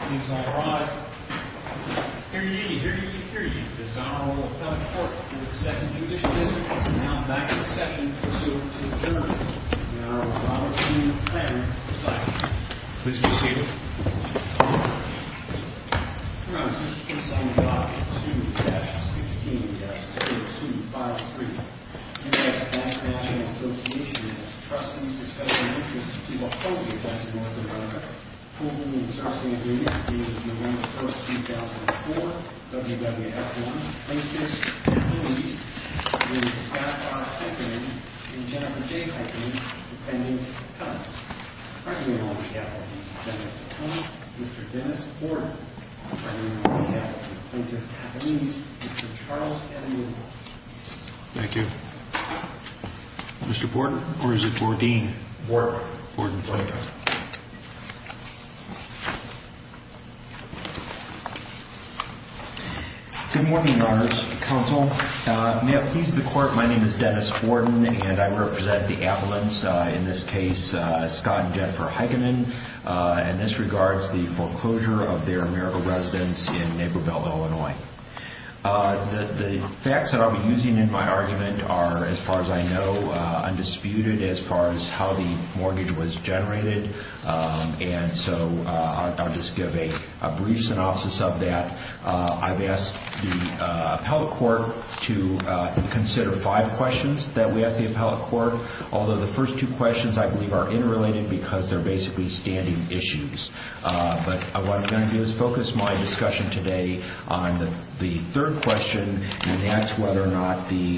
Here ye, here ye, here ye, this honorable appellate court in the 2nd Judicial District is now back in session pursuant to adjournment in an hour-long routine of planning and deciding. Please be seated. Your Honor, this case is on Document 2-16-0253. Hereby I call upon the Association of Trustees, Successors, and Interests to give a public advice on this matter. Approval of the insertion agreement is as follows. I hereby confer upon the Court of Appeals of the United States of America the authority to issue the following documents. I hereby confer upon the Court of Appeals of the United States of America the authority to issue the following documents. Good morning, Your Honors, Counsel. May it please the Court, my name is Dennis Borden and I represent the appellants, in this case, Scott and Jennifer Heikkinen. And this regards the foreclosure of their AmeriCorps residence in Naperville, Illinois. The facts that I'll be using in my argument are, as far as I know, undisputed as far as how the mortgage was generated. And so I'll just give a brief synopsis of that. I've asked the appellate court to consider five questions that we ask the appellate court, although the first two questions, I believe, are interrelated because they're basically standing issues. But what I'm going to do is focus my discussion today on the third question, and that's whether or not the,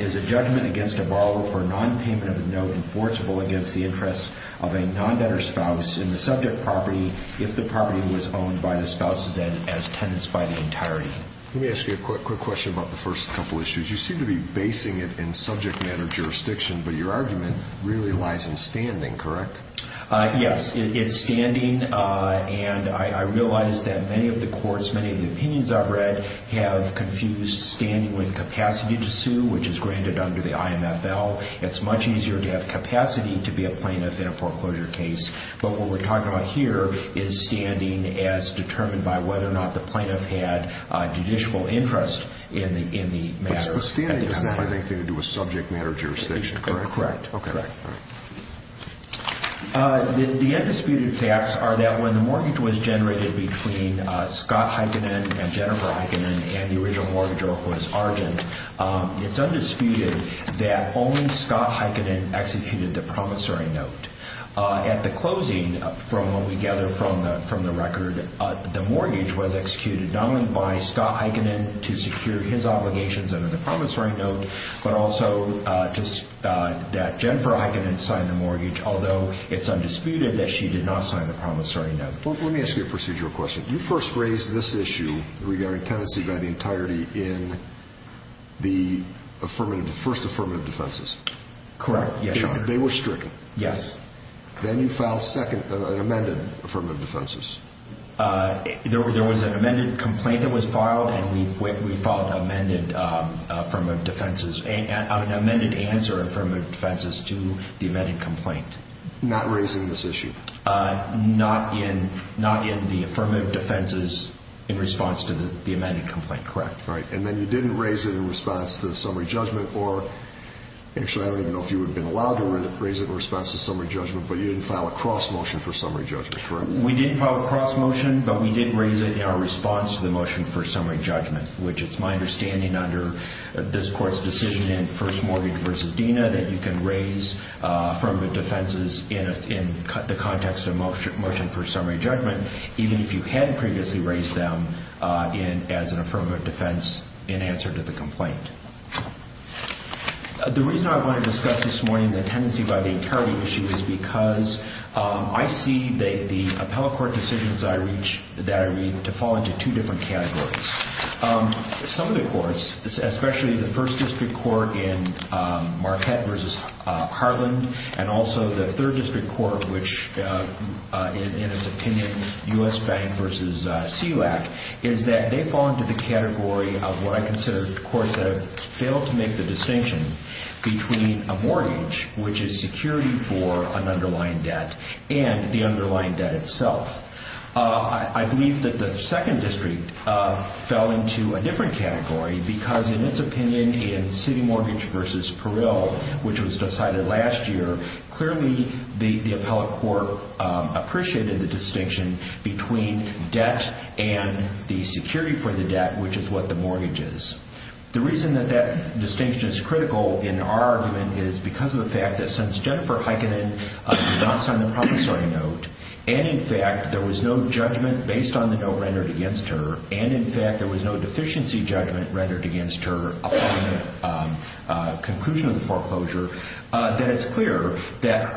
is a judgment against a borrower for non-payment of the note enforceable against the interests of a non-debtor spouse in the subject property if the property was owned by the spouse as tenants by the entirety. Let me ask you a quick question about the first couple issues. You seem to be basing it in subject matter jurisdiction, but your argument really lies in standing, correct? Yes, it's standing, and I realize that many of the courts, many of the opinions I've read, have confused standing with capacity to sue, which is granted under the IMFL. It's much easier to have capacity to be a plaintiff in a foreclosure case. But what we're talking about here is standing as determined by whether or not the plaintiff had judicial interest in the matter. But standing has nothing to do with subject matter jurisdiction, correct? Correct. The undisputed facts are that when the mortgage was generated between Scott Heikkinen and Jennifer Heikkinen and the original mortgage was argent, it's undisputed that only Scott Heikkinen executed the promissory note. At the closing, from what we gather from the record, the mortgage was executed not only by Scott Heikkinen to secure his obligations under the promissory note, but also that Jennifer Heikkinen signed the mortgage, although it's undisputed that she did not sign the promissory note. Let me ask you a procedural question. You first raised this issue regarding tenancy by the entirety in the first affirmative defenses. Correct, yes, Your Honor. They were stricken. Yes. Then you filed an amended affirmative defenses. There was an amended complaint that was filed, and we filed an amended affirmative defenses, an amended answer affirmative defenses to the amended complaint. Not raising this issue? Not in the affirmative defenses in response to the amended complaint, correct. Right. And then you didn't raise it in response to the summary judgment, or actually, I don't even know if you would have been allowed to raise it in response to the summary judgment, but you didn't file a cross-motion for summary judgment, correct? We didn't file a cross-motion, but we did raise it in our response to the motion for summary judgment, which it's my understanding under this Court's decision in first mortgage versus Dena that you can raise affirmative defenses in the context of motion for summary judgment, even if you had previously raised them as an affirmative defense in answer to the complaint. The reason I want to discuss this morning the tenancy by the entirety issue is because I see the appellate court decisions that I read to fall into two different categories. Some of the courts, especially the first district court in Marquette versus Harland, and also the third district court, which in its opinion, U.S. Bank versus SELAC, is that they fall into the category of what I consider courts that have failed to make the distinction between a mortgage, which is security for an underlying debt, and the underlying debt itself. I believe that the second district fell into a different category because, in its opinion, in city mortgage versus Parill, which was decided last year, clearly the appellate court appreciated the distinction between debt and the security for the debt, which is what the mortgage is. The reason that that distinction is critical in our argument is because of the fact that, since Jennifer Heikkinen did not sign the promissory note, and, in fact, there was no judgment based on the note rendered against her, and, in fact, there was no deficiency judgment rendered against her upon the conclusion of the foreclosure, that it's clear that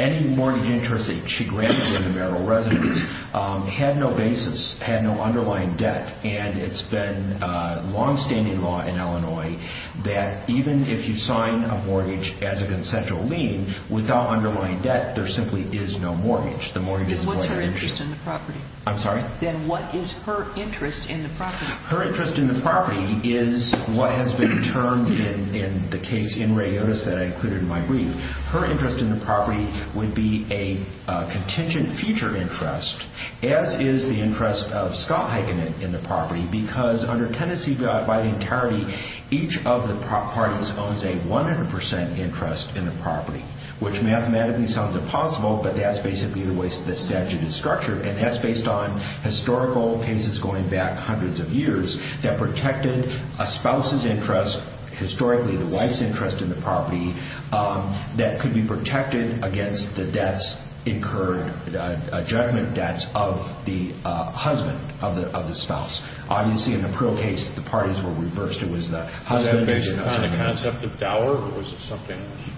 any mortgage interest that she granted in the marital residence had no basis, and it's been a longstanding law in Illinois that even if you sign a mortgage as a consensual lien, without underlying debt, there simply is no mortgage. What's her interest in the property? I'm sorry? Then what is her interest in the property? Her interest in the property is what has been termed in the case in Ray Otis that I included in my brief. Her interest in the property would be a contingent future interest, as is the interest of Scott Heikkinen in the property, because under Tennessee Voting Tarity, each of the parties owns a 100% interest in the property, which mathematically sounds impossible, but that's basically the way the statute is structured, and that's based on historical cases going back hundreds of years that protected a spouse's interest, historically the wife's interest in the property, that could be protected against the debts incurred, judgment debts, of the husband, of the spouse. Obviously, in the Prill case, the parties were reversed. Was that based on the concept of dower, or was it something else?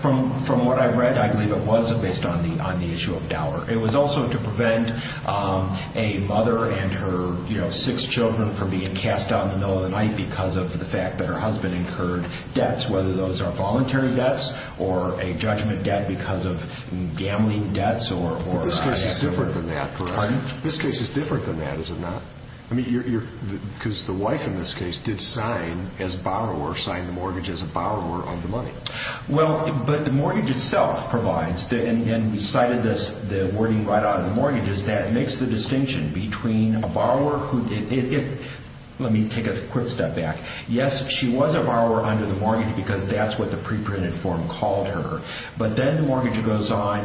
From what I've read, I believe it was based on the issue of dower. It was also to prevent a mother and her six children from being cast out in the middle of the night because of the fact that her husband incurred debts, whether those are voluntary debts or a judgment debt because of gambling debts. This case is different than that, correct? Pardon? This case is different than that, is it not? Because the wife, in this case, did sign as borrower, signed the mortgage as a borrower of the money. But the mortgage itself provides, and we cited the wording right out of the mortgages, that makes the distinction between a borrower who... Let me take a quick step back. Yes, she was a borrower under the mortgage because that's what the preprinted form called her. But then the mortgage goes on,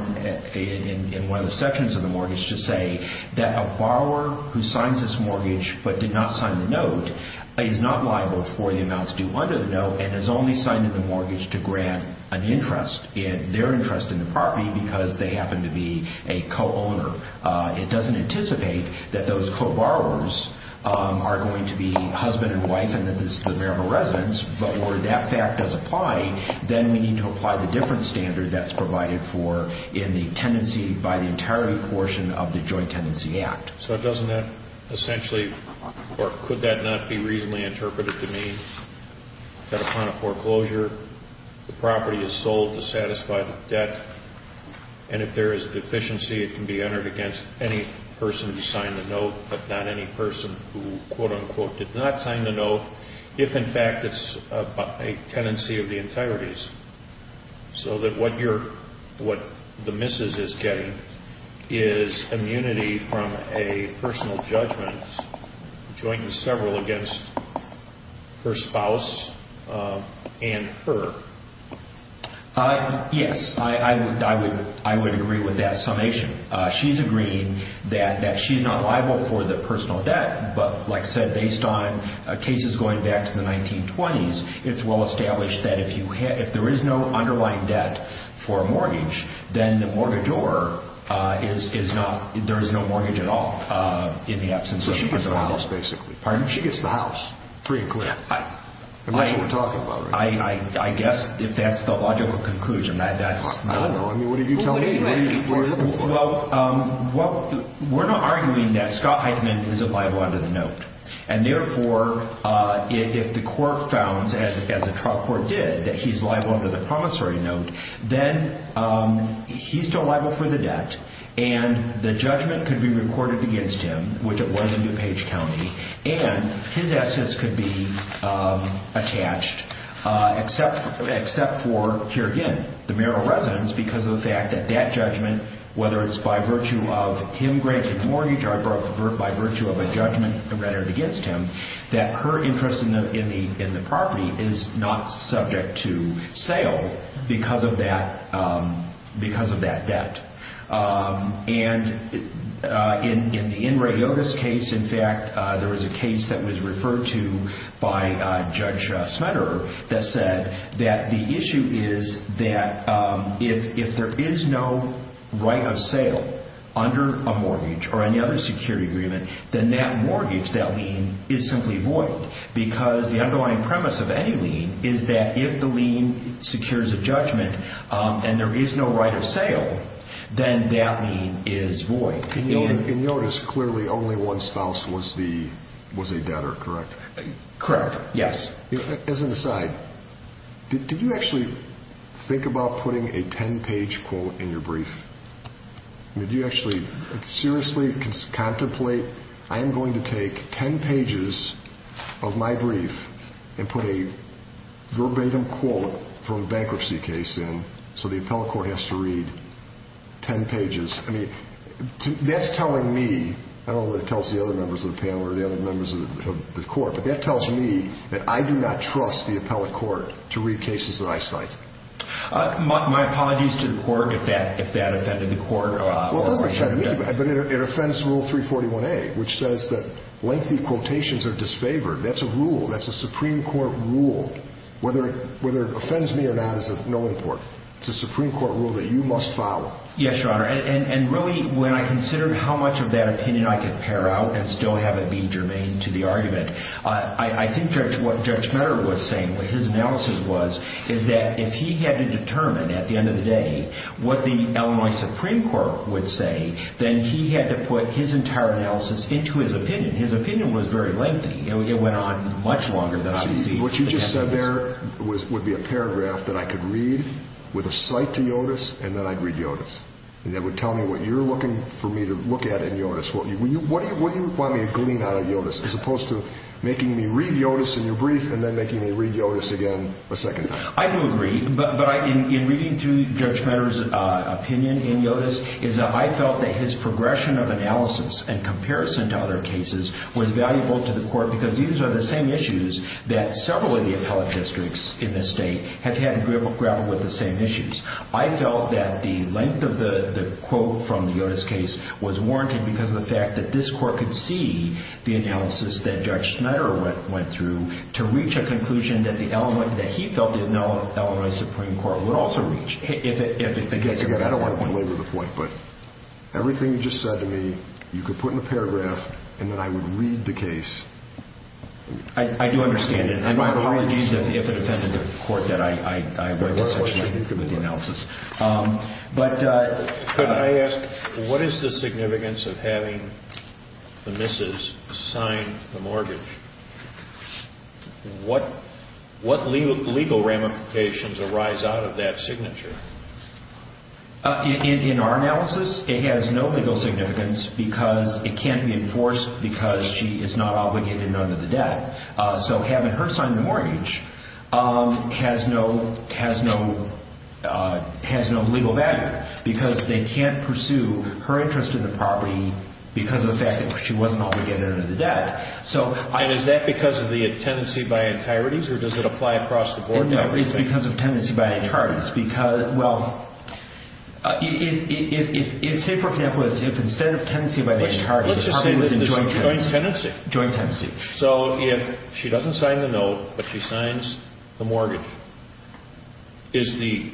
in one of the sections of the mortgage, to say that a borrower who signs this mortgage but did not sign the note is not liable for the amounts due under the note and has only signed the mortgage to grant an interest, their interest in the property, because they happen to be a co-owner. It doesn't anticipate that those co-borrowers are going to be husband and wife and that this is a variable residence. But where that fact does apply, then we need to apply the different standard that's provided for in the tenancy by the entirety portion of the Joint Tenancy Act. So doesn't that essentially, or could that not be reasonably interpreted to mean that upon a foreclosure, the property is sold to satisfy the debt, and if there is a deficiency, it can be entered against any person who signed the note, but not any person who, quote-unquote, did not sign the note, if in fact it's a tenancy of the entireties. So that what the missus is getting is immunity from a personal judgment, joint and several, against her spouse and her. Yes, I would agree with that summation. She's agreeing that she's not liable for the personal debt, but like I said, based on cases going back to the 1920s, it's well-established that if there is no underlying debt for a mortgage, then the mortgagor is not, there is no mortgage at all in the absence of the mortgage. So she gets the house, basically. Pardon? She gets the house, pretty clear. That's what we're talking about right now. I guess if that's the logical conclusion, that's not. I don't know. I mean, what did you tell me? Well, we're not arguing that Scott Heitman is liable under the note, and therefore, if the court founds, as the trial court did, that he's liable under the promissory note, then he's still liable for the debt, and the judgment could be recorded against him, which it was in DuPage County, and his assets could be attached, except for, here again, the mayoral residence, because of the fact that that judgment, whether it's by virtue of him granting the mortgage or by virtue of a judgment recorded against him, that her interest in the property is not subject to sale because of that debt. And in Ray Yotus' case, in fact, there was a case that was referred to by Judge Smetterer that the issue is that if there is no right of sale under a mortgage or any other security agreement, then that mortgage, that lien, is simply void, because the underlying premise of any lien is that if the lien secures a judgment and there is no right of sale, then that lien is void. In Yotus, clearly only one spouse was a debtor, correct? Correct, yes. As an aside, did you actually think about putting a 10-page quote in your brief? I mean, did you actually seriously contemplate, I am going to take 10 pages of my brief and put a verbatim quote from a bankruptcy case in so the appellate court has to read 10 pages? I mean, that's telling me, I don't know what it tells the other members of the panel or the other members of the court, but that tells me that I do not trust the appellate court to read cases that I cite. My apologies to the court if that offended the court. Well, it doesn't offend me, but it offends Rule 341A, which says that lengthy quotations are disfavored. That's a rule. That's a Supreme Court rule. Whether it offends me or not is of no importance. Yes, Your Honor. And really, when I considered how much of that opinion I could pare out and still have it be germane to the argument, I think what Judge Meador was saying, what his analysis was, is that if he had to determine at the end of the day what the Illinois Supreme Court would say, then he had to put his entire analysis into his opinion. His opinion was very lengthy. It went on much longer than I could see. What you just said there would be a paragraph that I could read with a cite to Yotus and then I'd read Yotus. And that would tell me what you're looking for me to look at in Yotus. What do you want me to glean out of Yotus as opposed to making me read Yotus in your brief and then making me read Yotus again a second time? I do agree. But in reading through Judge Meador's opinion in Yotus, is that I felt that his progression of analysis and comparison to other cases was valuable to the court because these are the same issues that several of the appellate districts in this state have had to grapple with the same issues. I felt that the length of the quote from the Yotus case was warranted because of the fact that this court could see the analysis that Judge Schneider went through to reach a conclusion that he felt the Illinois Supreme Court would also reach. Again, I don't want to belabor the point, but everything you just said to me you could put in a paragraph and then I would read the case. I do understand it. My apologies if it offended the court that I went to such length with the analysis. Could I ask, what is the significance of having the Mrs. sign the mortgage? What legal ramifications arise out of that signature? In our analysis, it has no legal significance because it can't be enforced because she is not obligated under the debt. So having her sign the mortgage has no legal value because they can't pursue her interest in the property because of the fact that she wasn't obligated under the debt. Is that because of the tenancy by entireties or does it apply across the board? It's because of tenancy by entireties. Say, for example, if instead of tenancy by the entireties, the property was in joint tenancy. So if she doesn't sign the note but she signs the mortgage, is the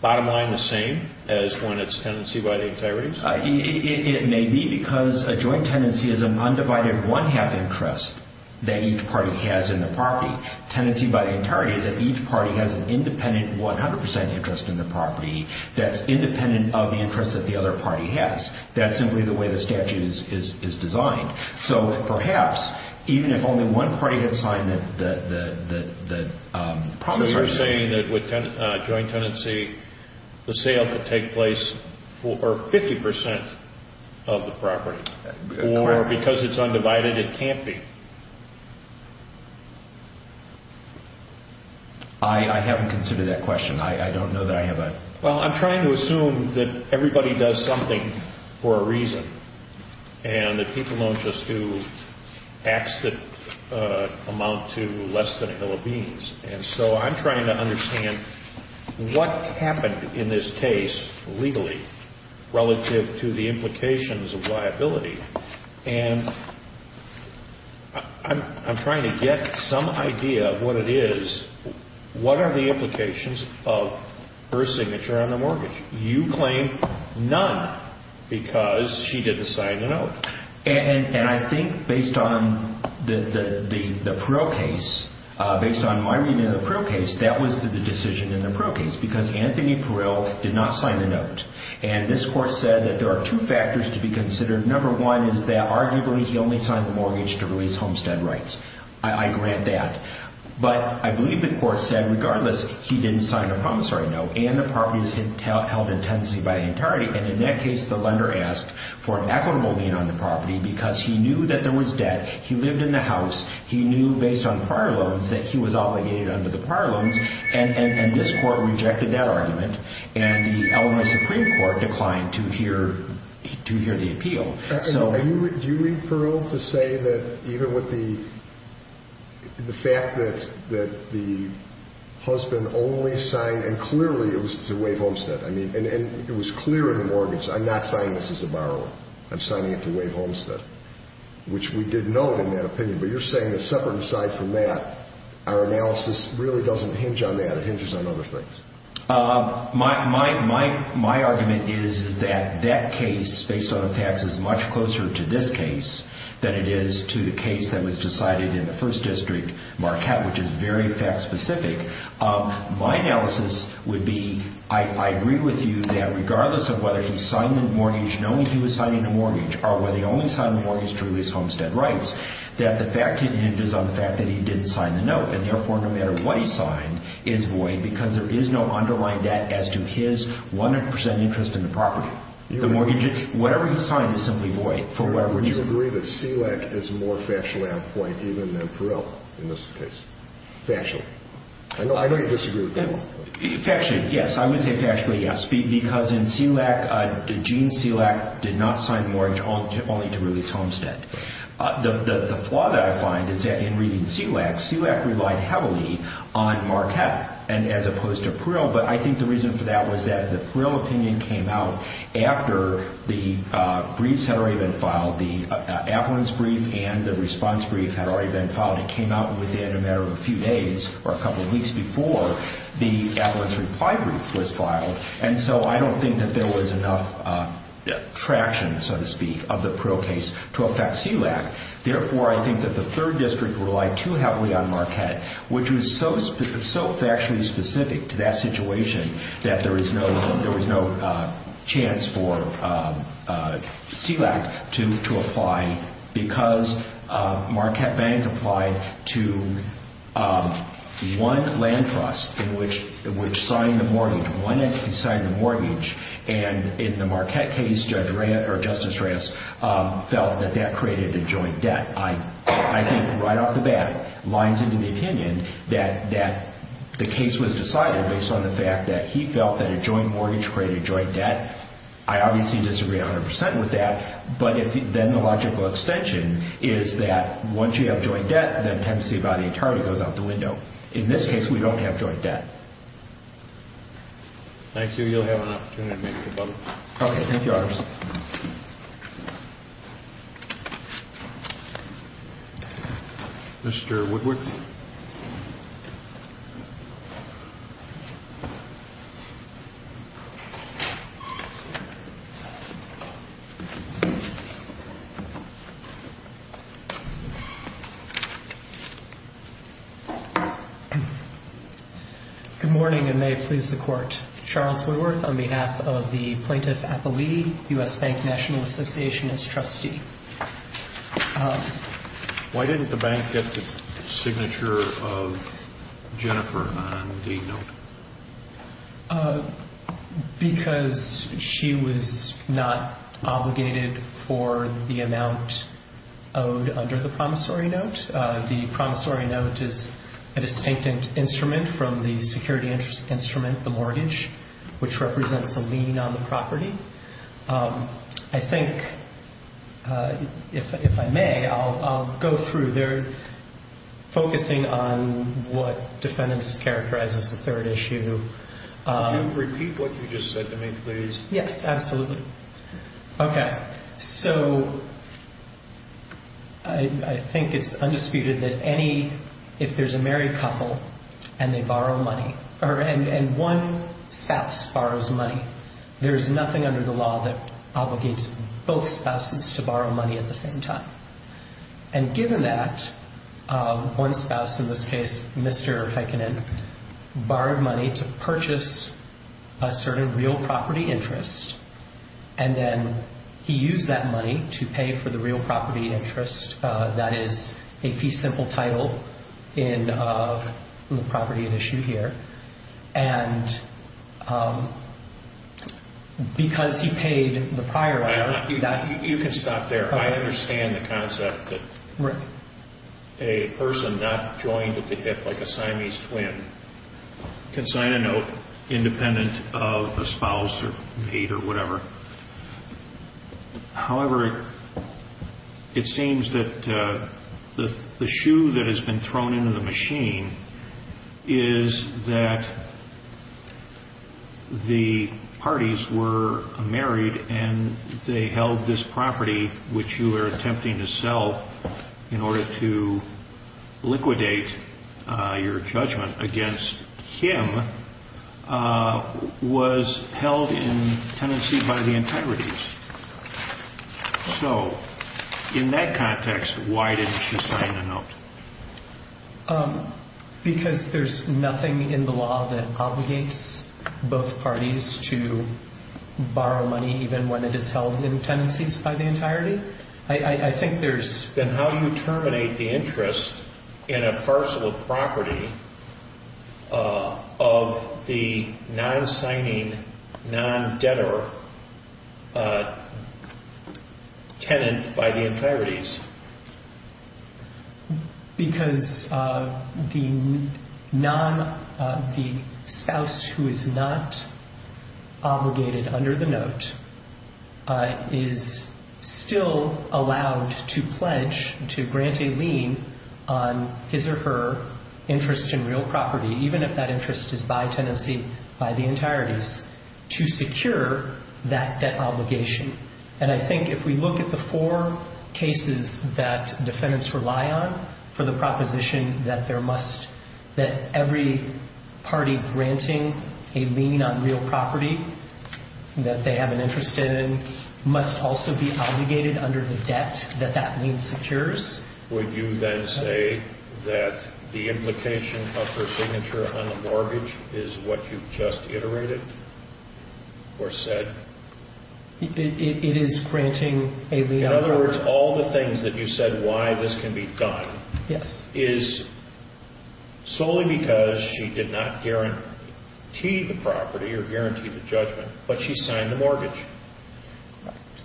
bottom line the same as when it's tenancy by the entireties? It may be because a joint tenancy is an undivided one-half interest that each party has in the property. Tenancy by the entirety is that each party has an independent 100% interest in the property that's independent of the interest that the other party has. That's simply the way the statute is designed. So perhaps even if only one party had signed the... So you're saying that with joint tenancy, the sale could take place for 50% of the property or because it's undivided it can't be? I haven't considered that question. I don't know that I have a... Well, I'm trying to assume that everybody does something for a reason and that people don't just do acts that amount to less than a hill of beans. And so I'm trying to understand what happened in this case legally relative to the implications of liability. And I'm trying to get some idea of what it is, what are the implications of her signature on the mortgage. You claim none because she didn't sign the note. And I think based on the Parrell case, based on my reading of the Parrell case, that was the decision in the Parrell case because Anthony Parrell did not sign the note. And this court said that there are two factors to be considered. Number one is that arguably he only signed the mortgage to release homestead rights. I grant that. But I believe the court said regardless he didn't sign the promissory note and the property is held in tenancy by the entirety. And in that case the lender asked for an equitable lien on the property because he knew that there was debt. He lived in the house. He knew based on prior loans that he was obligated under the prior loans. And this court rejected that argument. And the Illinois Supreme Court declined to hear the appeal. Do you read Parrell to say that even with the fact that the husband only signed and clearly it was to waive homestead, and it was clear in the mortgage, I'm not signing this as a borrower. I'm signing it to waive homestead, which we did note in that opinion. But you're saying that separate aside from that, our analysis really doesn't hinge on that. It hinges on other things. My argument is that that case based on the facts is much closer to this case than it is to the case that was decided in the first district, Marquette, which is very fact specific. My analysis would be I agree with you that regardless of whether he signed the mortgage knowing he was signing the mortgage or whether he only signed the mortgage to release homestead rights, that the fact hinges on the fact that he didn't sign the note. And therefore, no matter what he signed is void because there is no underlying debt as to his 100% interest in the property. Whatever he signed is simply void. Would you agree that SELAC is more factually on point even than Parrell in this case? Factually. I know you disagree with that one. Factually, yes. I would say factually, yes, because in SELAC, Gene SELAC did not sign the mortgage only to release homestead. The flaw that I find is that in reading SELAC, SELAC relied heavily on Marquette as opposed to Parrell, but I think the reason for that was that the Parrell opinion came out after the briefs had already been filed. The affluence brief and the response brief had already been filed. It came out within a matter of a few days or a couple weeks before the affluence reply brief was filed, and so I don't think that there was enough traction, so to speak, of the Parrell case to affect SELAC. Therefore, I think that the third district relied too heavily on Marquette, which was so factually specific to that situation that there was no chance for SELAC to apply because Marquette Bank applied to one land trust which signed the mortgage, one entity signed the mortgage, and in the Marquette case, Judge Reyes or Justice Reyes felt that that created a joint debt. I think right off the bat, lines into the opinion that the case was decided based on the fact that he felt that a joint mortgage created a joint debt. I obviously disagree 100% with that, but then the logical extension is that once you have joint debt, then Tempest-Seabody and Tardy goes out the window. In this case, we don't have joint debt. Thank you. You'll have an opportunity to make a comment. Okay. Thank you, Officer. Thank you. Mr. Woodworth. Good morning and may it please the Court. Charles Woodworth on behalf of the Plaintiff Appellee, U.S. Bank National Association as trustee. Why didn't the bank get the signature of Jennifer on the note? Because she was not obligated for the amount owed under the promissory note. The promissory note is a distinct instrument from the security instrument, the mortgage, which represents a lien on the property. I think if I may, I'll go through. They're focusing on what defendants characterize as the third issue. Could you repeat what you just said to me, please? Yes, absolutely. Okay. So I think it's undisputed that if there's a married couple and one spouse borrows money, there is nothing under the law that obligates both spouses to borrow money at the same time. And given that, one spouse, in this case Mr. Heikkinen, borrowed money to purchase a certain real property interest, and then he used that money to pay for the real property interest, that is a fee simple title in the property at issue here. And because he paid the prior loan. You can stop there. I understand the concept that a person not joined at the hip like a Siamese twin can sign a note independent of a spouse or mate or whatever. However, it seems that the shoe that has been thrown into the machine is that the parties were married and they held this property, which you are attempting to sell in order to liquidate your judgment against him, was held in tenancy by the integrities. So in that context, why didn't she sign the note? Because there's nothing in the law that obligates both parties to borrow money, even when it is held in tenancies by the entirety. Then how do you terminate the interest in a parcel of property of the non-signing, non-debtor tenant by the integrities? Because the spouse who is not obligated under the note is still allowed to pledge, to grant a lien on his or her interest in real property, even if that interest is by tenancy by the entireties, to secure that debt obligation. And I think if we look at the four cases that defendants rely on for the proposition that every party granting a lien on real property that they have an interest in must also be obligated under the debt that that lien secures. Would you then say that the implication of her signature on the mortgage is what you just iterated or said? It is granting a lien. In other words, all the things that you said why this can be done is solely because she did not guarantee the property or guarantee the judgment, but she signed the mortgage.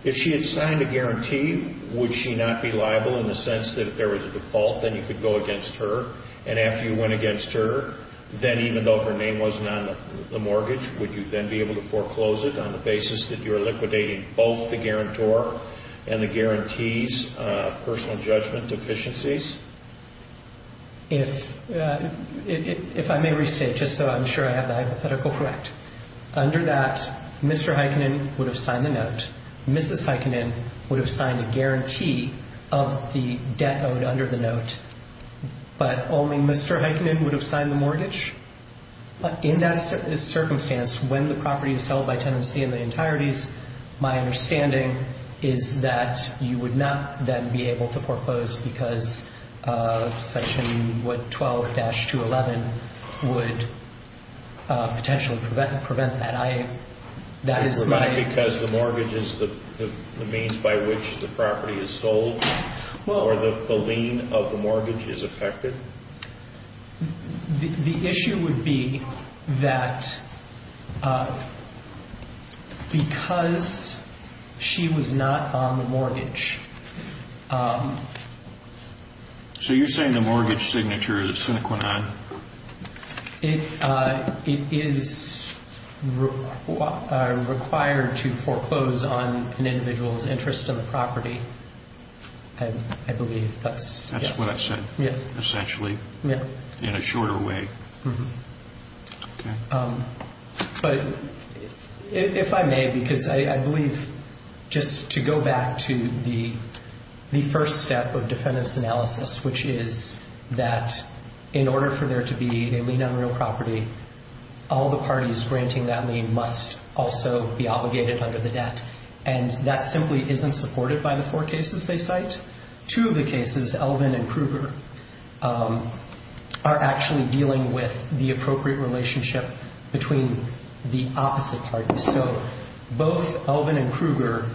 If she had signed a guarantee, would she not be liable in the sense that if there was a default, then you could go against her? And after you went against her, then even though her name wasn't on the mortgage, would you then be able to foreclose it on the basis that you're liquidating both the guarantor and the guarantee's personal judgment deficiencies? If I may restate, just so I'm sure I have the hypothetical correct, under that Mr. Heikkinen would have signed the note. Mrs. Heikkinen would have signed a guarantee of the debt owed under the note. But only Mr. Heikkinen would have signed the mortgage. In that circumstance, when the property is held by tenancy in the entireties, my understanding is that you would not then be able to foreclose because Section 12-211 would potentially prevent that. Because the mortgage is the means by which the property is sold? Or the lien of the mortgage is affected? The issue would be that because she was not on the mortgage. So you're saying the mortgage signature is a sine qua non? It is required to foreclose on an individual's interest in the property, I believe. That's what I said, essentially, in a shorter way. But if I may, because I believe just to go back to the first step of defendant's analysis, which is that in order for there to be a lien on real property, all the parties granting that lien must also be obligated under the debt. And that simply isn't supported by the four cases they cite. Two of the cases, Elvin and Kruger, are actually dealing with the appropriate relationship between the opposite parties. So both Elvin and Kruger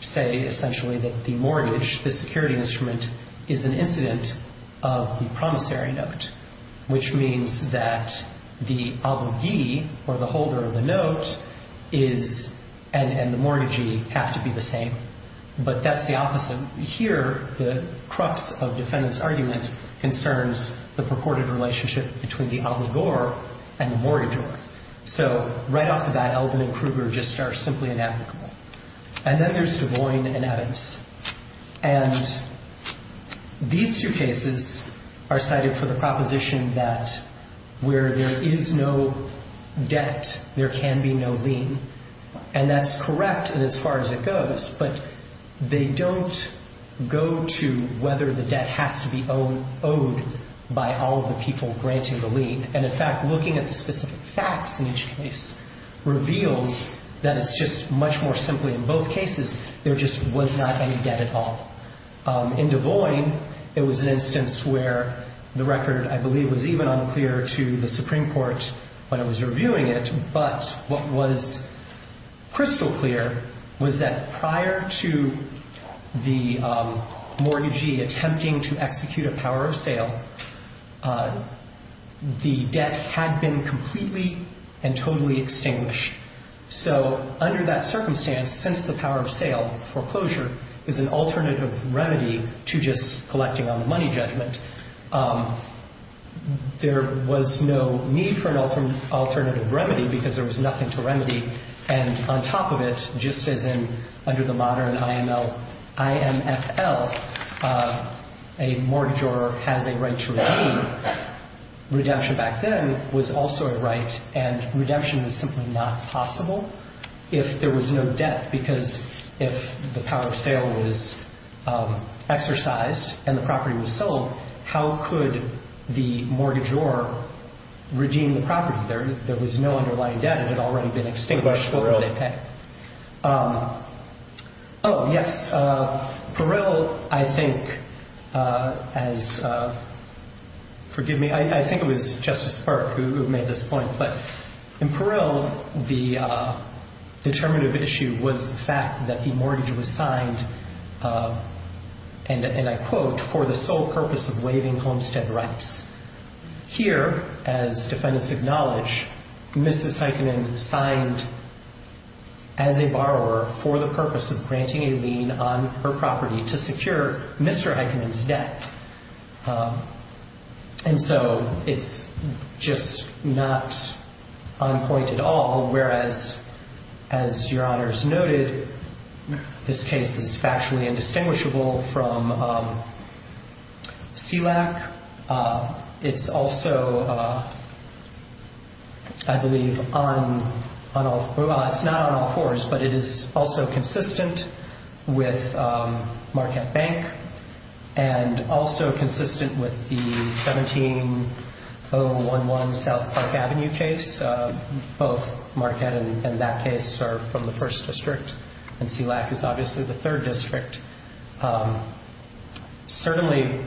say, essentially, that the mortgage, the security instrument, is an incident of the promissory note, which means that the obligee, or the holder of the note, and the mortgagee have to be the same. But that's the opposite. Here, the crux of defendant's argument concerns the purported relationship between the obligor and the mortgagee. So right off the bat, Elvin and Kruger just are simply inapplicable. And then there's Devoyne and Adams. And these two cases are cited for the proposition that where there is no debt, there can be no lien. And that's correct in as far as it goes, but they don't go to whether the debt has to be owed by all of the people granting the lien. And, in fact, looking at the specific facts in each case reveals that it's just much more simply, in both cases, there just was not any debt at all. In Devoyne, it was an instance where the record, I believe, was even unclear to the Supreme Court when it was reviewing it. But what was crystal clear was that prior to the mortgagee attempting to execute a power of sale, the debt had been completely and totally extinguished. So under that circumstance, since the power of sale, foreclosure, is an alternative remedy to just collecting on the money judgment, there was no need for an alternative remedy because there was nothing to remedy. And on top of it, just as in under the modern IML, IMFL, a mortgagor has a right to redeem. Redemption back then was also a right, and redemption was simply not possible if there was no debt. Because if the power of sale was exercised and the property was sold, how could the mortgagor redeem the property? There was no underlying debt. It had already been extinguished. What did they pay? Oh, yes. Parill, I think, as – forgive me. I think it was Justice Park who made this point. But in Parill, the determinative issue was the fact that the mortgage was signed, and I quote, for the sole purpose of waiving homestead rights. Here, as defendants acknowledge, Mrs. Heikkinen signed as a borrower for the purpose of granting a lien on her property to secure Mr. Heikkinen's debt. And so it's just not on point at all, whereas, as Your Honors noted, this case is factually indistinguishable from SELAC. It's also, I believe, on – well, it's not on all fours, but it is also consistent with Marquette Bank and also consistent with the 17-011 South Park Avenue case. Both Marquette and that case are from the first district, and SELAC is obviously the third district. Certainly,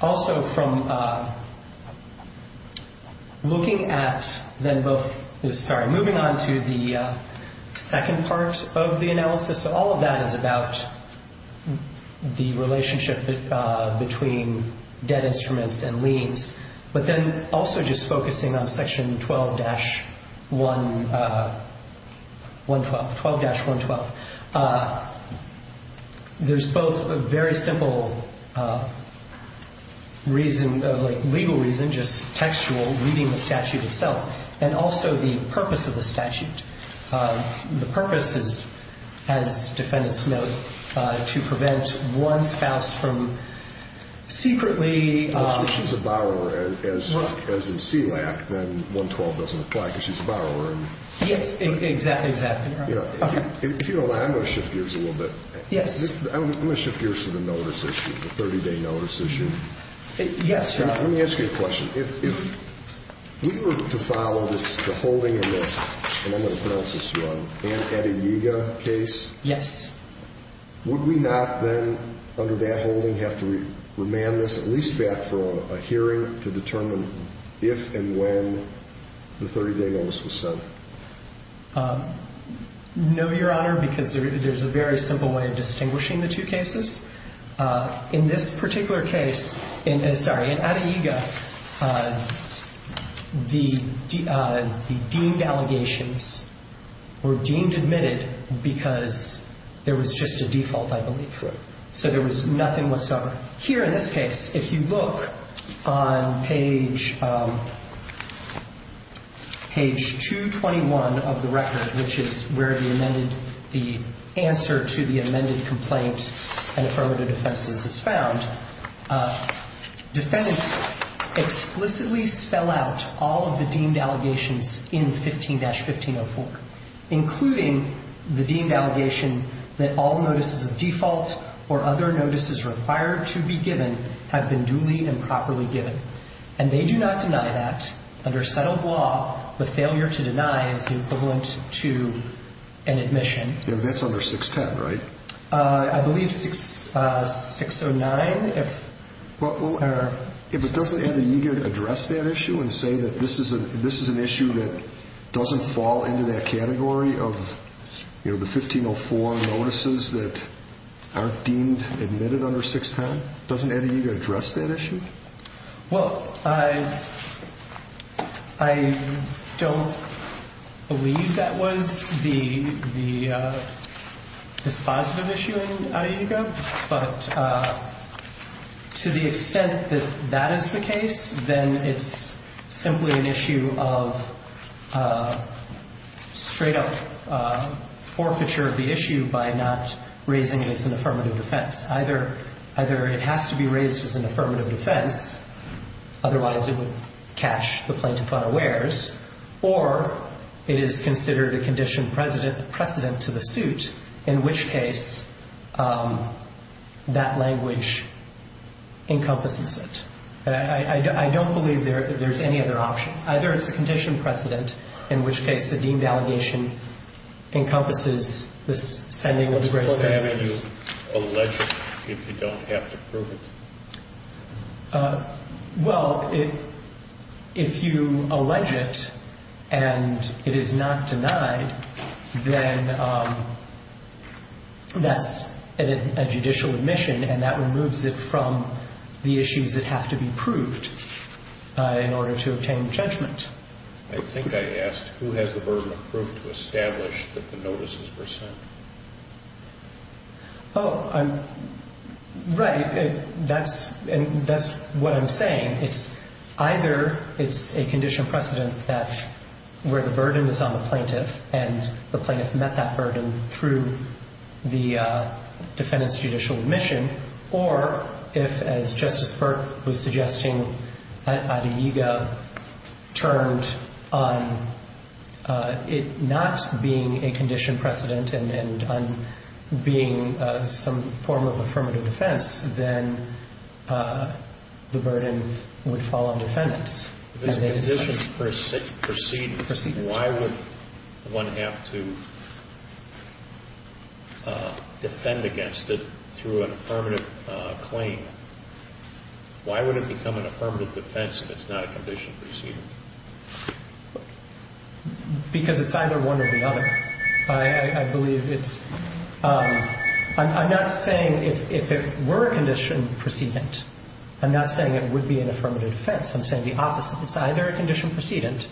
also from looking at then both – sorry, moving on to the second part of the analysis, all of that is about the relationship between debt instruments and liens, but then also just focusing on Section 12-112. There's both a very simple reason, like legal reason, just textual, reading the statute itself, and also the purpose of the statute. The purpose is, as defendants note, to prevent one spouse from secretly – as in SELAC, then 112 doesn't apply because she's a borrower. Yes, exactly, exactly. If you don't mind, I'm going to shift gears a little bit. Yes. I'm going to shift gears to the notice issue, the 30-day notice issue. Yes, Your Honor. Let me ask you a question. If we were to follow this, the holding of this, and I'm going to pronounce this wrong, Ann Etiega case, would we not then, under that holding, have to remand this at least back for a hearing to determine if and when the 30-day notice was sent? No, Your Honor, because there's a very simple way of distinguishing the two cases. In this particular case – sorry, in Ann Etiega, the deemed allegations were deemed admitted because there was just a default, I believe, for it. So there was nothing whatsoever. Here in this case, if you look on page 221 of the record, which is where the amended – the answer to the amended complaint and affirmative offenses is found, defendants explicitly spell out all of the deemed allegations in 15-1504, including the deemed allegation that all notices of default or other notices required to be given have been duly and properly given. And they do not deny that. Under settled law, the failure to deny is equivalent to an admission. That's under 610, right? I believe 609, if – Well, if it doesn't have Etiega address that issue and say that this is an issue that doesn't fall into that category of, you know, the 1504 notices that aren't deemed admitted under 610, doesn't Etiega address that issue? Well, I don't believe that was the – this positive issue in Etiega, but to the extent that that is the case, then it's simply an issue of straight-up forfeiture of the issue by not raising it as an affirmative defense. Either it has to be raised as an affirmative defense, otherwise it would catch the plaintiff unawares, or it is considered a conditioned precedent to the suit, in which case that language encompasses it. And I don't believe there's any other option. Either it's a conditioned precedent, in which case the deemed allegation encompasses this sending of the grace of damages. Why haven't you alleged it if you don't have to prove it? Well, if you allege it and it is not denied, then that's a judicial admission, and that removes it from the issues that have to be proved in order to obtain judgment. I think I asked, who has the burden of proof to establish that the notices were sent? Oh, right. That's what I'm saying. It's either it's a conditioned precedent that where the burden is on the plaintiff and the plaintiff met that burden through the defendant's judicial admission, or if, as Justice Burke was suggesting, Adeyega turned on it not being a conditioned precedent and on being some form of affirmative defense, then the burden would fall on defendants. If it's a conditioned precedent, why would one have to defend against it through an affirmative claim? Why would it become an affirmative defense if it's not a conditioned precedent? Because it's either one or the other. I believe it's ‑‑ I'm not saying if it were a conditioned precedent, I'm not saying it would be an affirmative defense. I'm saying the opposite. It's either a conditioned precedent,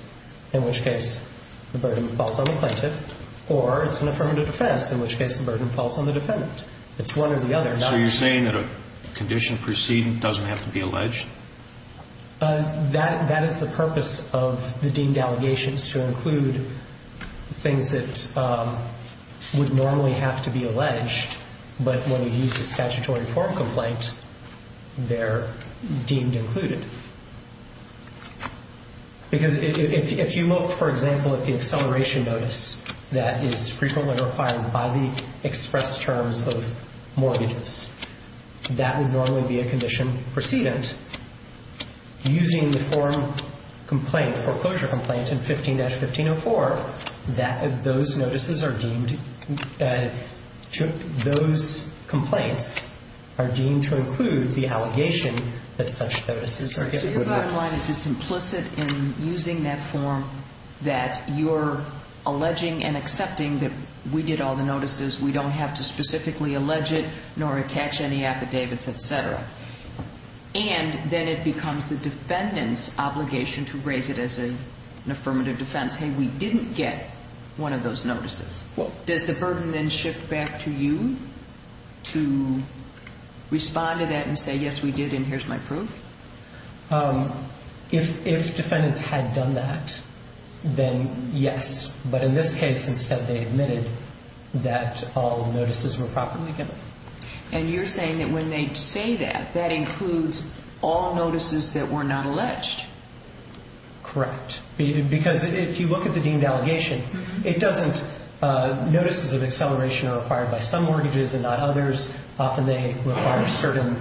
in which case the burden falls on the plaintiff, or it's an affirmative defense, in which case the burden falls on the defendant. It's one or the other. So you're saying that a conditioned precedent doesn't have to be alleged? That is the purpose of the deemed allegations, to include things that would normally have to be alleged, but when you use a statutory form complaint, they're deemed included. Because if you look, for example, at the acceleration notice that is frequently required by the express terms of mortgages, that would normally be a conditioned precedent. Using the form complaint, foreclosure complaint in 15‑1504, those notices are deemed to ‑‑ those complaints are deemed to include the allegation that such notices are given. So your bottom line is it's implicit in using that form that you're alleging and accepting that we did all the notices, we don't have to specifically allege it, nor attach any affidavits, et cetera. And then it becomes the defendant's obligation to raise it as an affirmative defense. Hey, we didn't get one of those notices. Does the burden then shift back to you to respond to that and say, yes, we did, and here's my proof? If defendants had done that, then yes. But in this case, instead, they admitted that all notices were properly given. And you're saying that when they say that, that includes all notices that were not alleged. Correct. Because if you look at the deemed allegation, notices of acceleration are required by some mortgages and not others. Often they require certain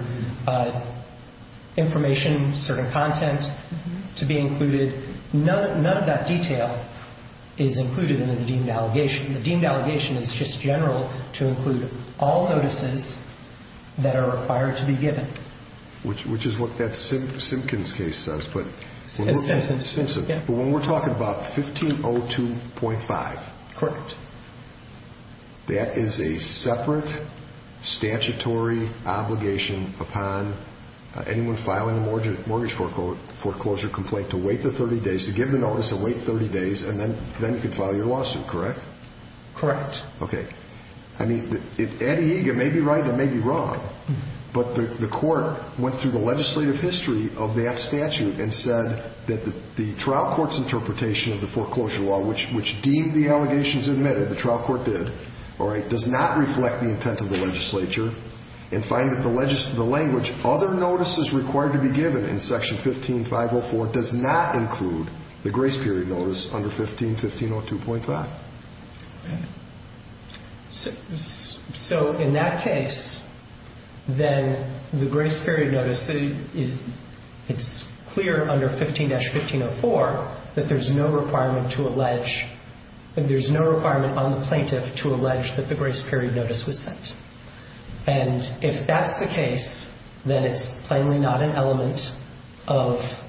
information, certain content to be included. None of that detail is included in the deemed allegation. The deemed allegation is just general to include all notices that are required to be given. Which is what that Simpkins case says, but when we're talking about 1502.5. Correct. That is a separate statutory obligation upon anyone filing a mortgage foreclosure complaint to wait the 30 days, to give the notice and wait 30 days, and then you can file your lawsuit, correct? Correct. Okay. I mean, it may be right and it may be wrong, but the court went through the legislative history of that statute and said that the trial court's interpretation of the foreclosure law, which deemed the allegations admitted, the trial court did, all right, does not reflect the intent of the legislature and find that the language other notices required to be given in section 15.504 does not include the grace period notice under 15.015.2.5. Okay. So in that case, then the grace period notice, it's clear under 15-1504 that there's no requirement to allege, that there's no requirement on the plaintiff to allege that the grace period notice was sent. And if that's the case, then it's plainly not an element of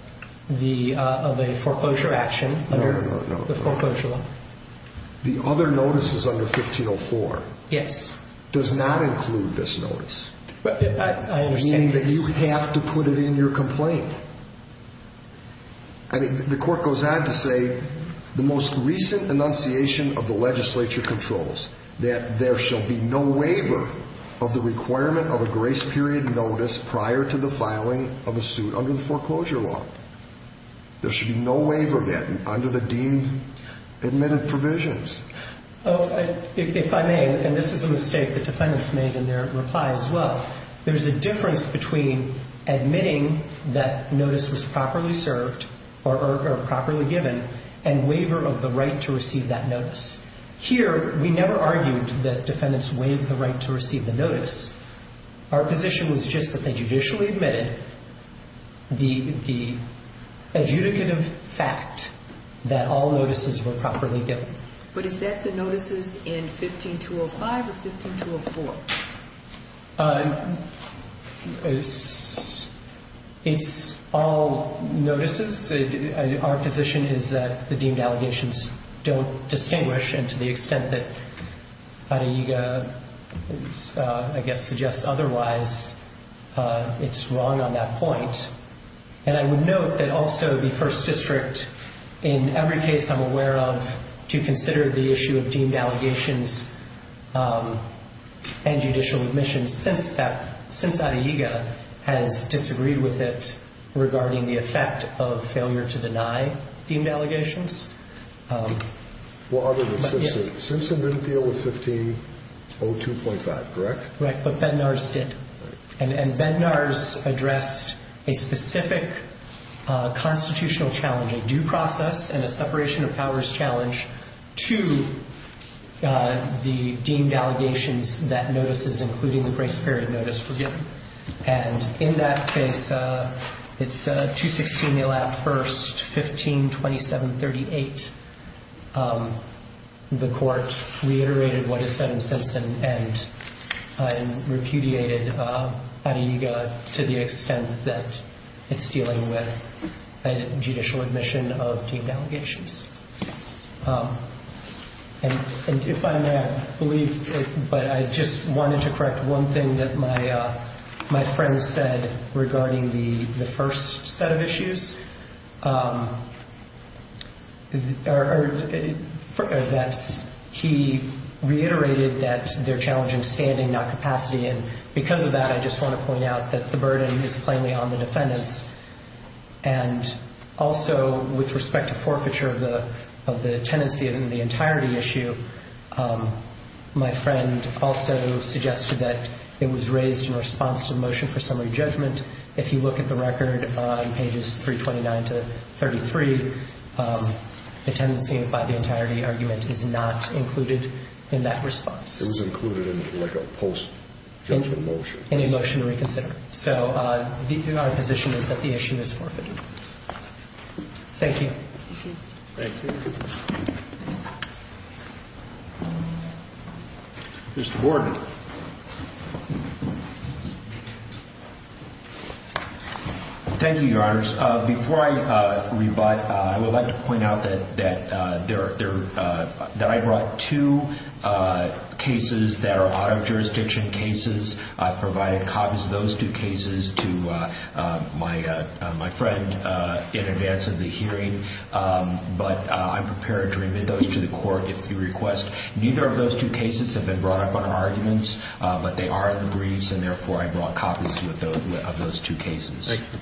a foreclosure action. No, no, no. The foreclosure law. The other notices under 1504. Yes. Does not include this notice. I understand this. Meaning that you have to put it in your complaint. I mean, the court goes on to say, the most recent enunciation of the legislature controls that there shall be no waiver of the requirement of a grace period notice prior to the filing of a suit under the foreclosure law. There should be no waiver of that under the deemed admitted provisions. If I may, and this is a mistake the defendants made in their reply as well, there's a difference between admitting that notice was properly served or properly given and waiver of the right to receive that notice. Here, we never argued that defendants waived the right to receive the notice. Our position was just that they judicially admitted the adjudicative fact that all notices were properly given. But is that the notices in 15-205 or 15-204? It's all notices. Our position is that the deemed allegations don't distinguish, and to the extent that Hara-Yuga, I guess, suggests otherwise, it's wrong on that point. And I would note that also the First District, in every case I'm aware of, to consider the issue of deemed allegations and judicial admission since Hara-Yuga has disagreed with it regarding the effect of failure to deny deemed allegations. Well, other than Simpson. Simpson didn't deal with 15-02.5, correct? Correct, but Bednarz did. And Bednarz addressed a specific constitutional challenge, a due process and a separation of powers challenge, to the deemed allegations that notices, including the grace period notice, were given. And in that case, it's 216-01-1527-38. The court reiterated what it said in Simpson and repudiated Hara-Yuga to the extent that it's dealing with judicial admission of deemed allegations. And if I may, I believe, but I just wanted to correct one thing that my friend said regarding the first set of issues. He reiterated that they're challenging standing, not capacity. And because of that, I just want to point out that the burden is plainly on the defendants. And also, with respect to forfeiture of the tenancy in the entirety issue, my friend also suggested that it was raised in response to the motion for summary judgment. If you look at the record on pages 329 to 33, the tenancy by the entirety argument is not included in that response. It was included in, like, a post-judgment motion. In a motion to reconsider. So our position is that the issue is forfeited. Thank you. Thank you. Mr. Gordon. Thank you, Your Honors. Before I rebut, I would like to point out that I brought two cases that are out of jurisdiction cases. I've provided copies of those two cases to my friend in advance of the hearing. But I'm prepared to remit those to the court if you request. Neither of those two cases have been brought up on our arguments, but they are in the briefs, and therefore I brought copies of those two cases. Thank you.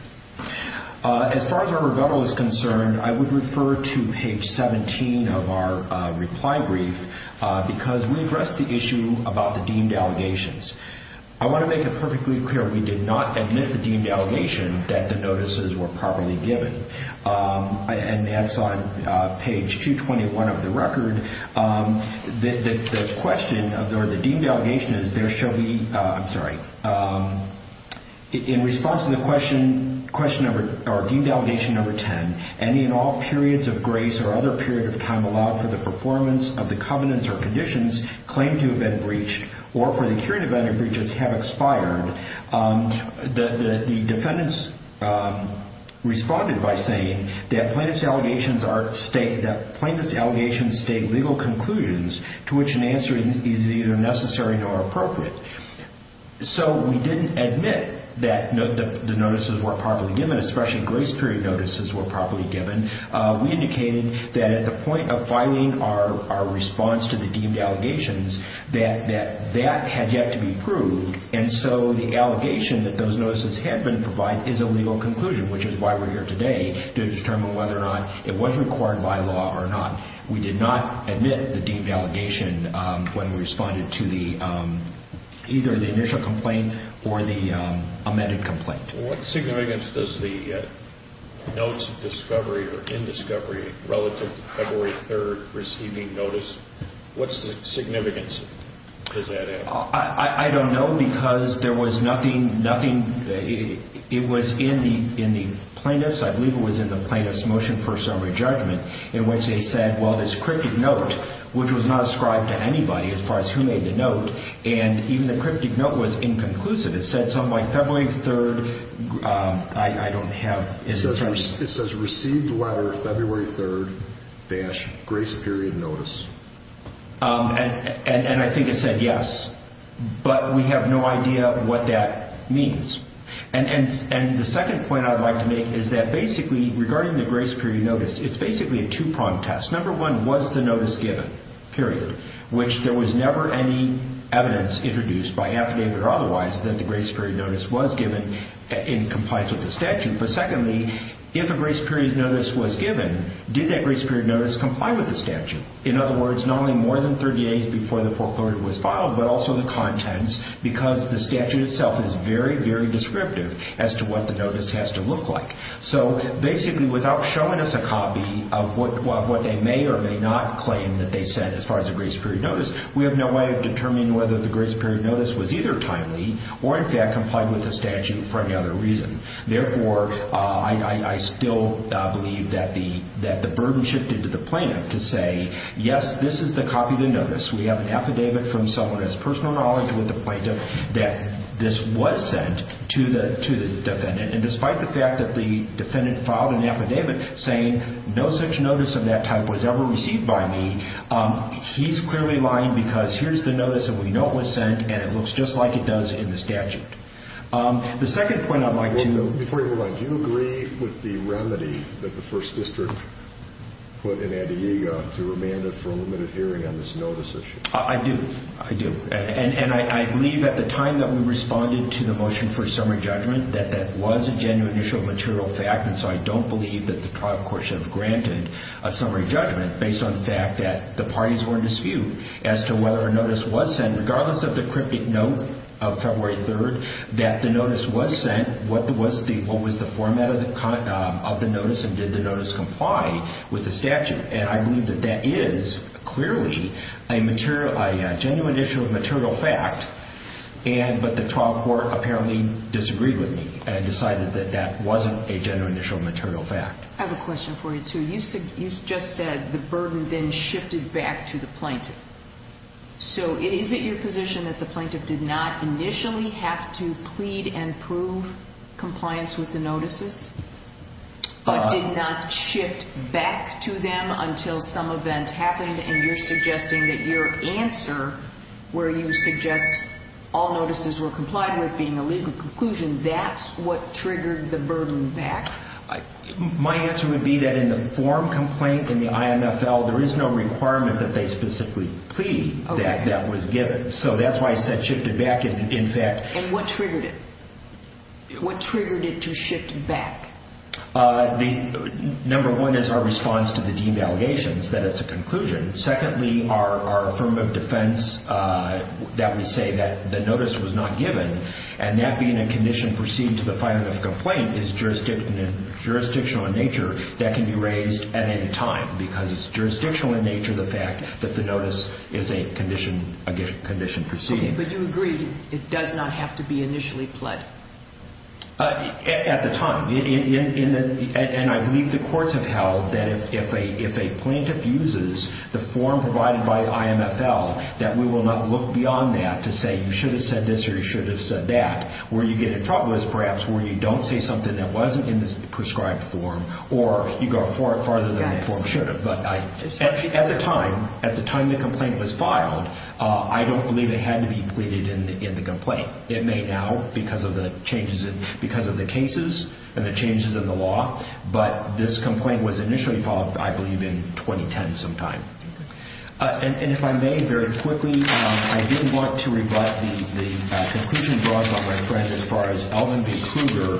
As far as our rebuttal is concerned, I would refer to page 17 of our reply brief because we addressed the issue about the deemed allegations. I want to make it perfectly clear we did not admit the deemed allegation that the notices were properly given. And that's on page 221 of the record. The deemed allegation is there shall be, I'm sorry. In response to the deemed allegation number 10, any and all periods of grace or other period of time allowed for the performance of the covenants or conditions claimed to have been breached or for the curing of any breaches have expired. The defendants responded by saying that plaintiff's allegations state to which an answer is either necessary nor appropriate. So we didn't admit that the notices were properly given, especially grace period notices were properly given. We indicated that at the point of filing our response to the deemed allegations that that had yet to be proved. And so the allegation that those notices had been provided is a legal conclusion, which is why we're here today to determine whether or not it was required by law or not. We did not admit the deemed allegation when we responded to either the initial complaint or the amended complaint. What significance does the notes of discovery or indiscovery relative to February 3rd receiving notice, what significance does that have? I don't know because there was nothing, it was in the plaintiff's, I believe it was in the plaintiff's motion for summary judgment in which they said, well, this cryptic note, which was not ascribed to anybody as far as who made the note, and even the cryptic note was inconclusive. It said something like February 3rd, I don't have, it says received letter February 3rd dash grace period notice. And I think it said yes, but we have no idea what that means. And the second point I'd like to make is that basically regarding the grace period notice, it's basically a two-prong test. Number one, was the notice given, period, which there was never any evidence introduced by affidavit or otherwise that the grace period notice was given and complies with the statute. But secondly, if a grace period notice was given, did that grace period notice comply with the statute? In other words, not only more than 30 days before the foreclosure was filed, but also the contents because the statute itself is very, very descriptive as to what the notice has to look like. So basically, without showing us a copy of what they may or may not claim that they said as far as the grace period notice, we have no way of determining whether the grace period notice was either timely or, in fact, complied with the statute for any other reason. Therefore, I still believe that the burden shifted to the plaintiff to say, yes, this is the copy of the notice. We have an affidavit from someone who has personal knowledge with the plaintiff that this was sent to the defendant. And despite the fact that the defendant filed an affidavit saying no such notice of that type was ever received by me, he's clearly lying because here's the notice that we know it was sent and it looks just like it does in the statute. The second point I'd like to – Before you move on, do you agree with the remedy that the First District put in Antioquia to remand it for a limited hearing on this notice issue? I do. I do. I don't believe that the trial court should have granted a summary judgment based on the fact that the parties were in dispute as to whether a notice was sent, regardless of the cryptic note of February 3rd, that the notice was sent, what was the format of the notice, and did the notice comply with the statute. And I believe that that is clearly a genuine issue of material fact, but the trial court apparently disagreed with me and decided that that wasn't a genuine issue of material fact. I have a question for you, too. You just said the burden then shifted back to the plaintiff. So is it your position that the plaintiff did not initially have to plead and prove compliance with the notices but did not shift back to them until some event happened? And you're suggesting that your answer, where you suggest all notices were complied with being a legal conclusion, that's what triggered the burden back? My answer would be that in the form complaint in the IMFL, there is no requirement that they specifically plead that that was given. So that's why I said shifted back, in fact. And what triggered it? What triggered it to shift back? Number one is our response to the deemed allegations, that it's a conclusion. Secondly, our affirmative defense, that we say that the notice was not given, and that being a condition perceived to the finding of the complaint is jurisdictional in nature, that can be raised at any time because it's jurisdictional in nature, the fact that the notice is a condition perceived. But you agreed it does not have to be initially pled? At the time. And I believe the courts have held that if a plaintiff uses the form provided by the IMFL, that we will not look beyond that to say you should have said this or you should have said that. Where you get in trouble is perhaps where you don't say something that wasn't in the prescribed form or you go farther than the form should have. At the time the complaint was filed, I don't believe it had to be pleaded in the complaint. It may now because of the cases and the changes in the law. But this complaint was initially filed, I believe, in 2010 sometime. And if I may, very quickly, I do want to rebut the conclusion brought by my friend as far as Alvin B. Kruger.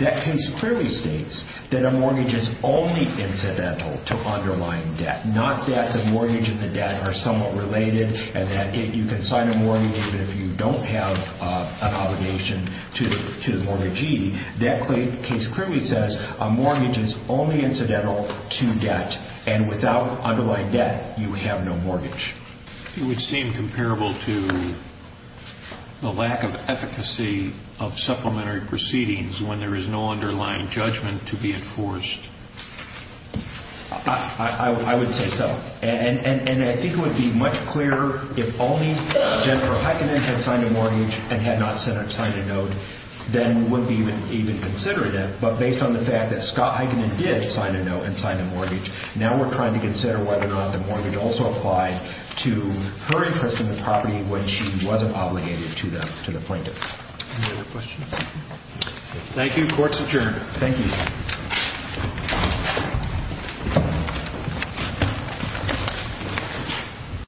That case clearly states that a mortgage is only incidental to underlying debt. Not that the mortgage and the debt are somewhat related and that you can sign a mortgage even if you don't have an obligation to the mortgagee. That case clearly says a mortgage is only incidental to debt. It would seem comparable to the lack of efficacy of supplementary proceedings when there is no underlying judgment to be enforced. I would say so. And I think it would be much clearer if only Jennifer Heikkinen had signed a mortgage and had not signed a note, then it would be even considerate. But based on the fact that Scott Heikkinen did sign a note and sign a mortgage, now we're trying to consider whether or not the mortgage also applied to her interest in the property when she wasn't obligated to the plaintiff. Any other questions? Thank you. Court's adjourned. Thank you.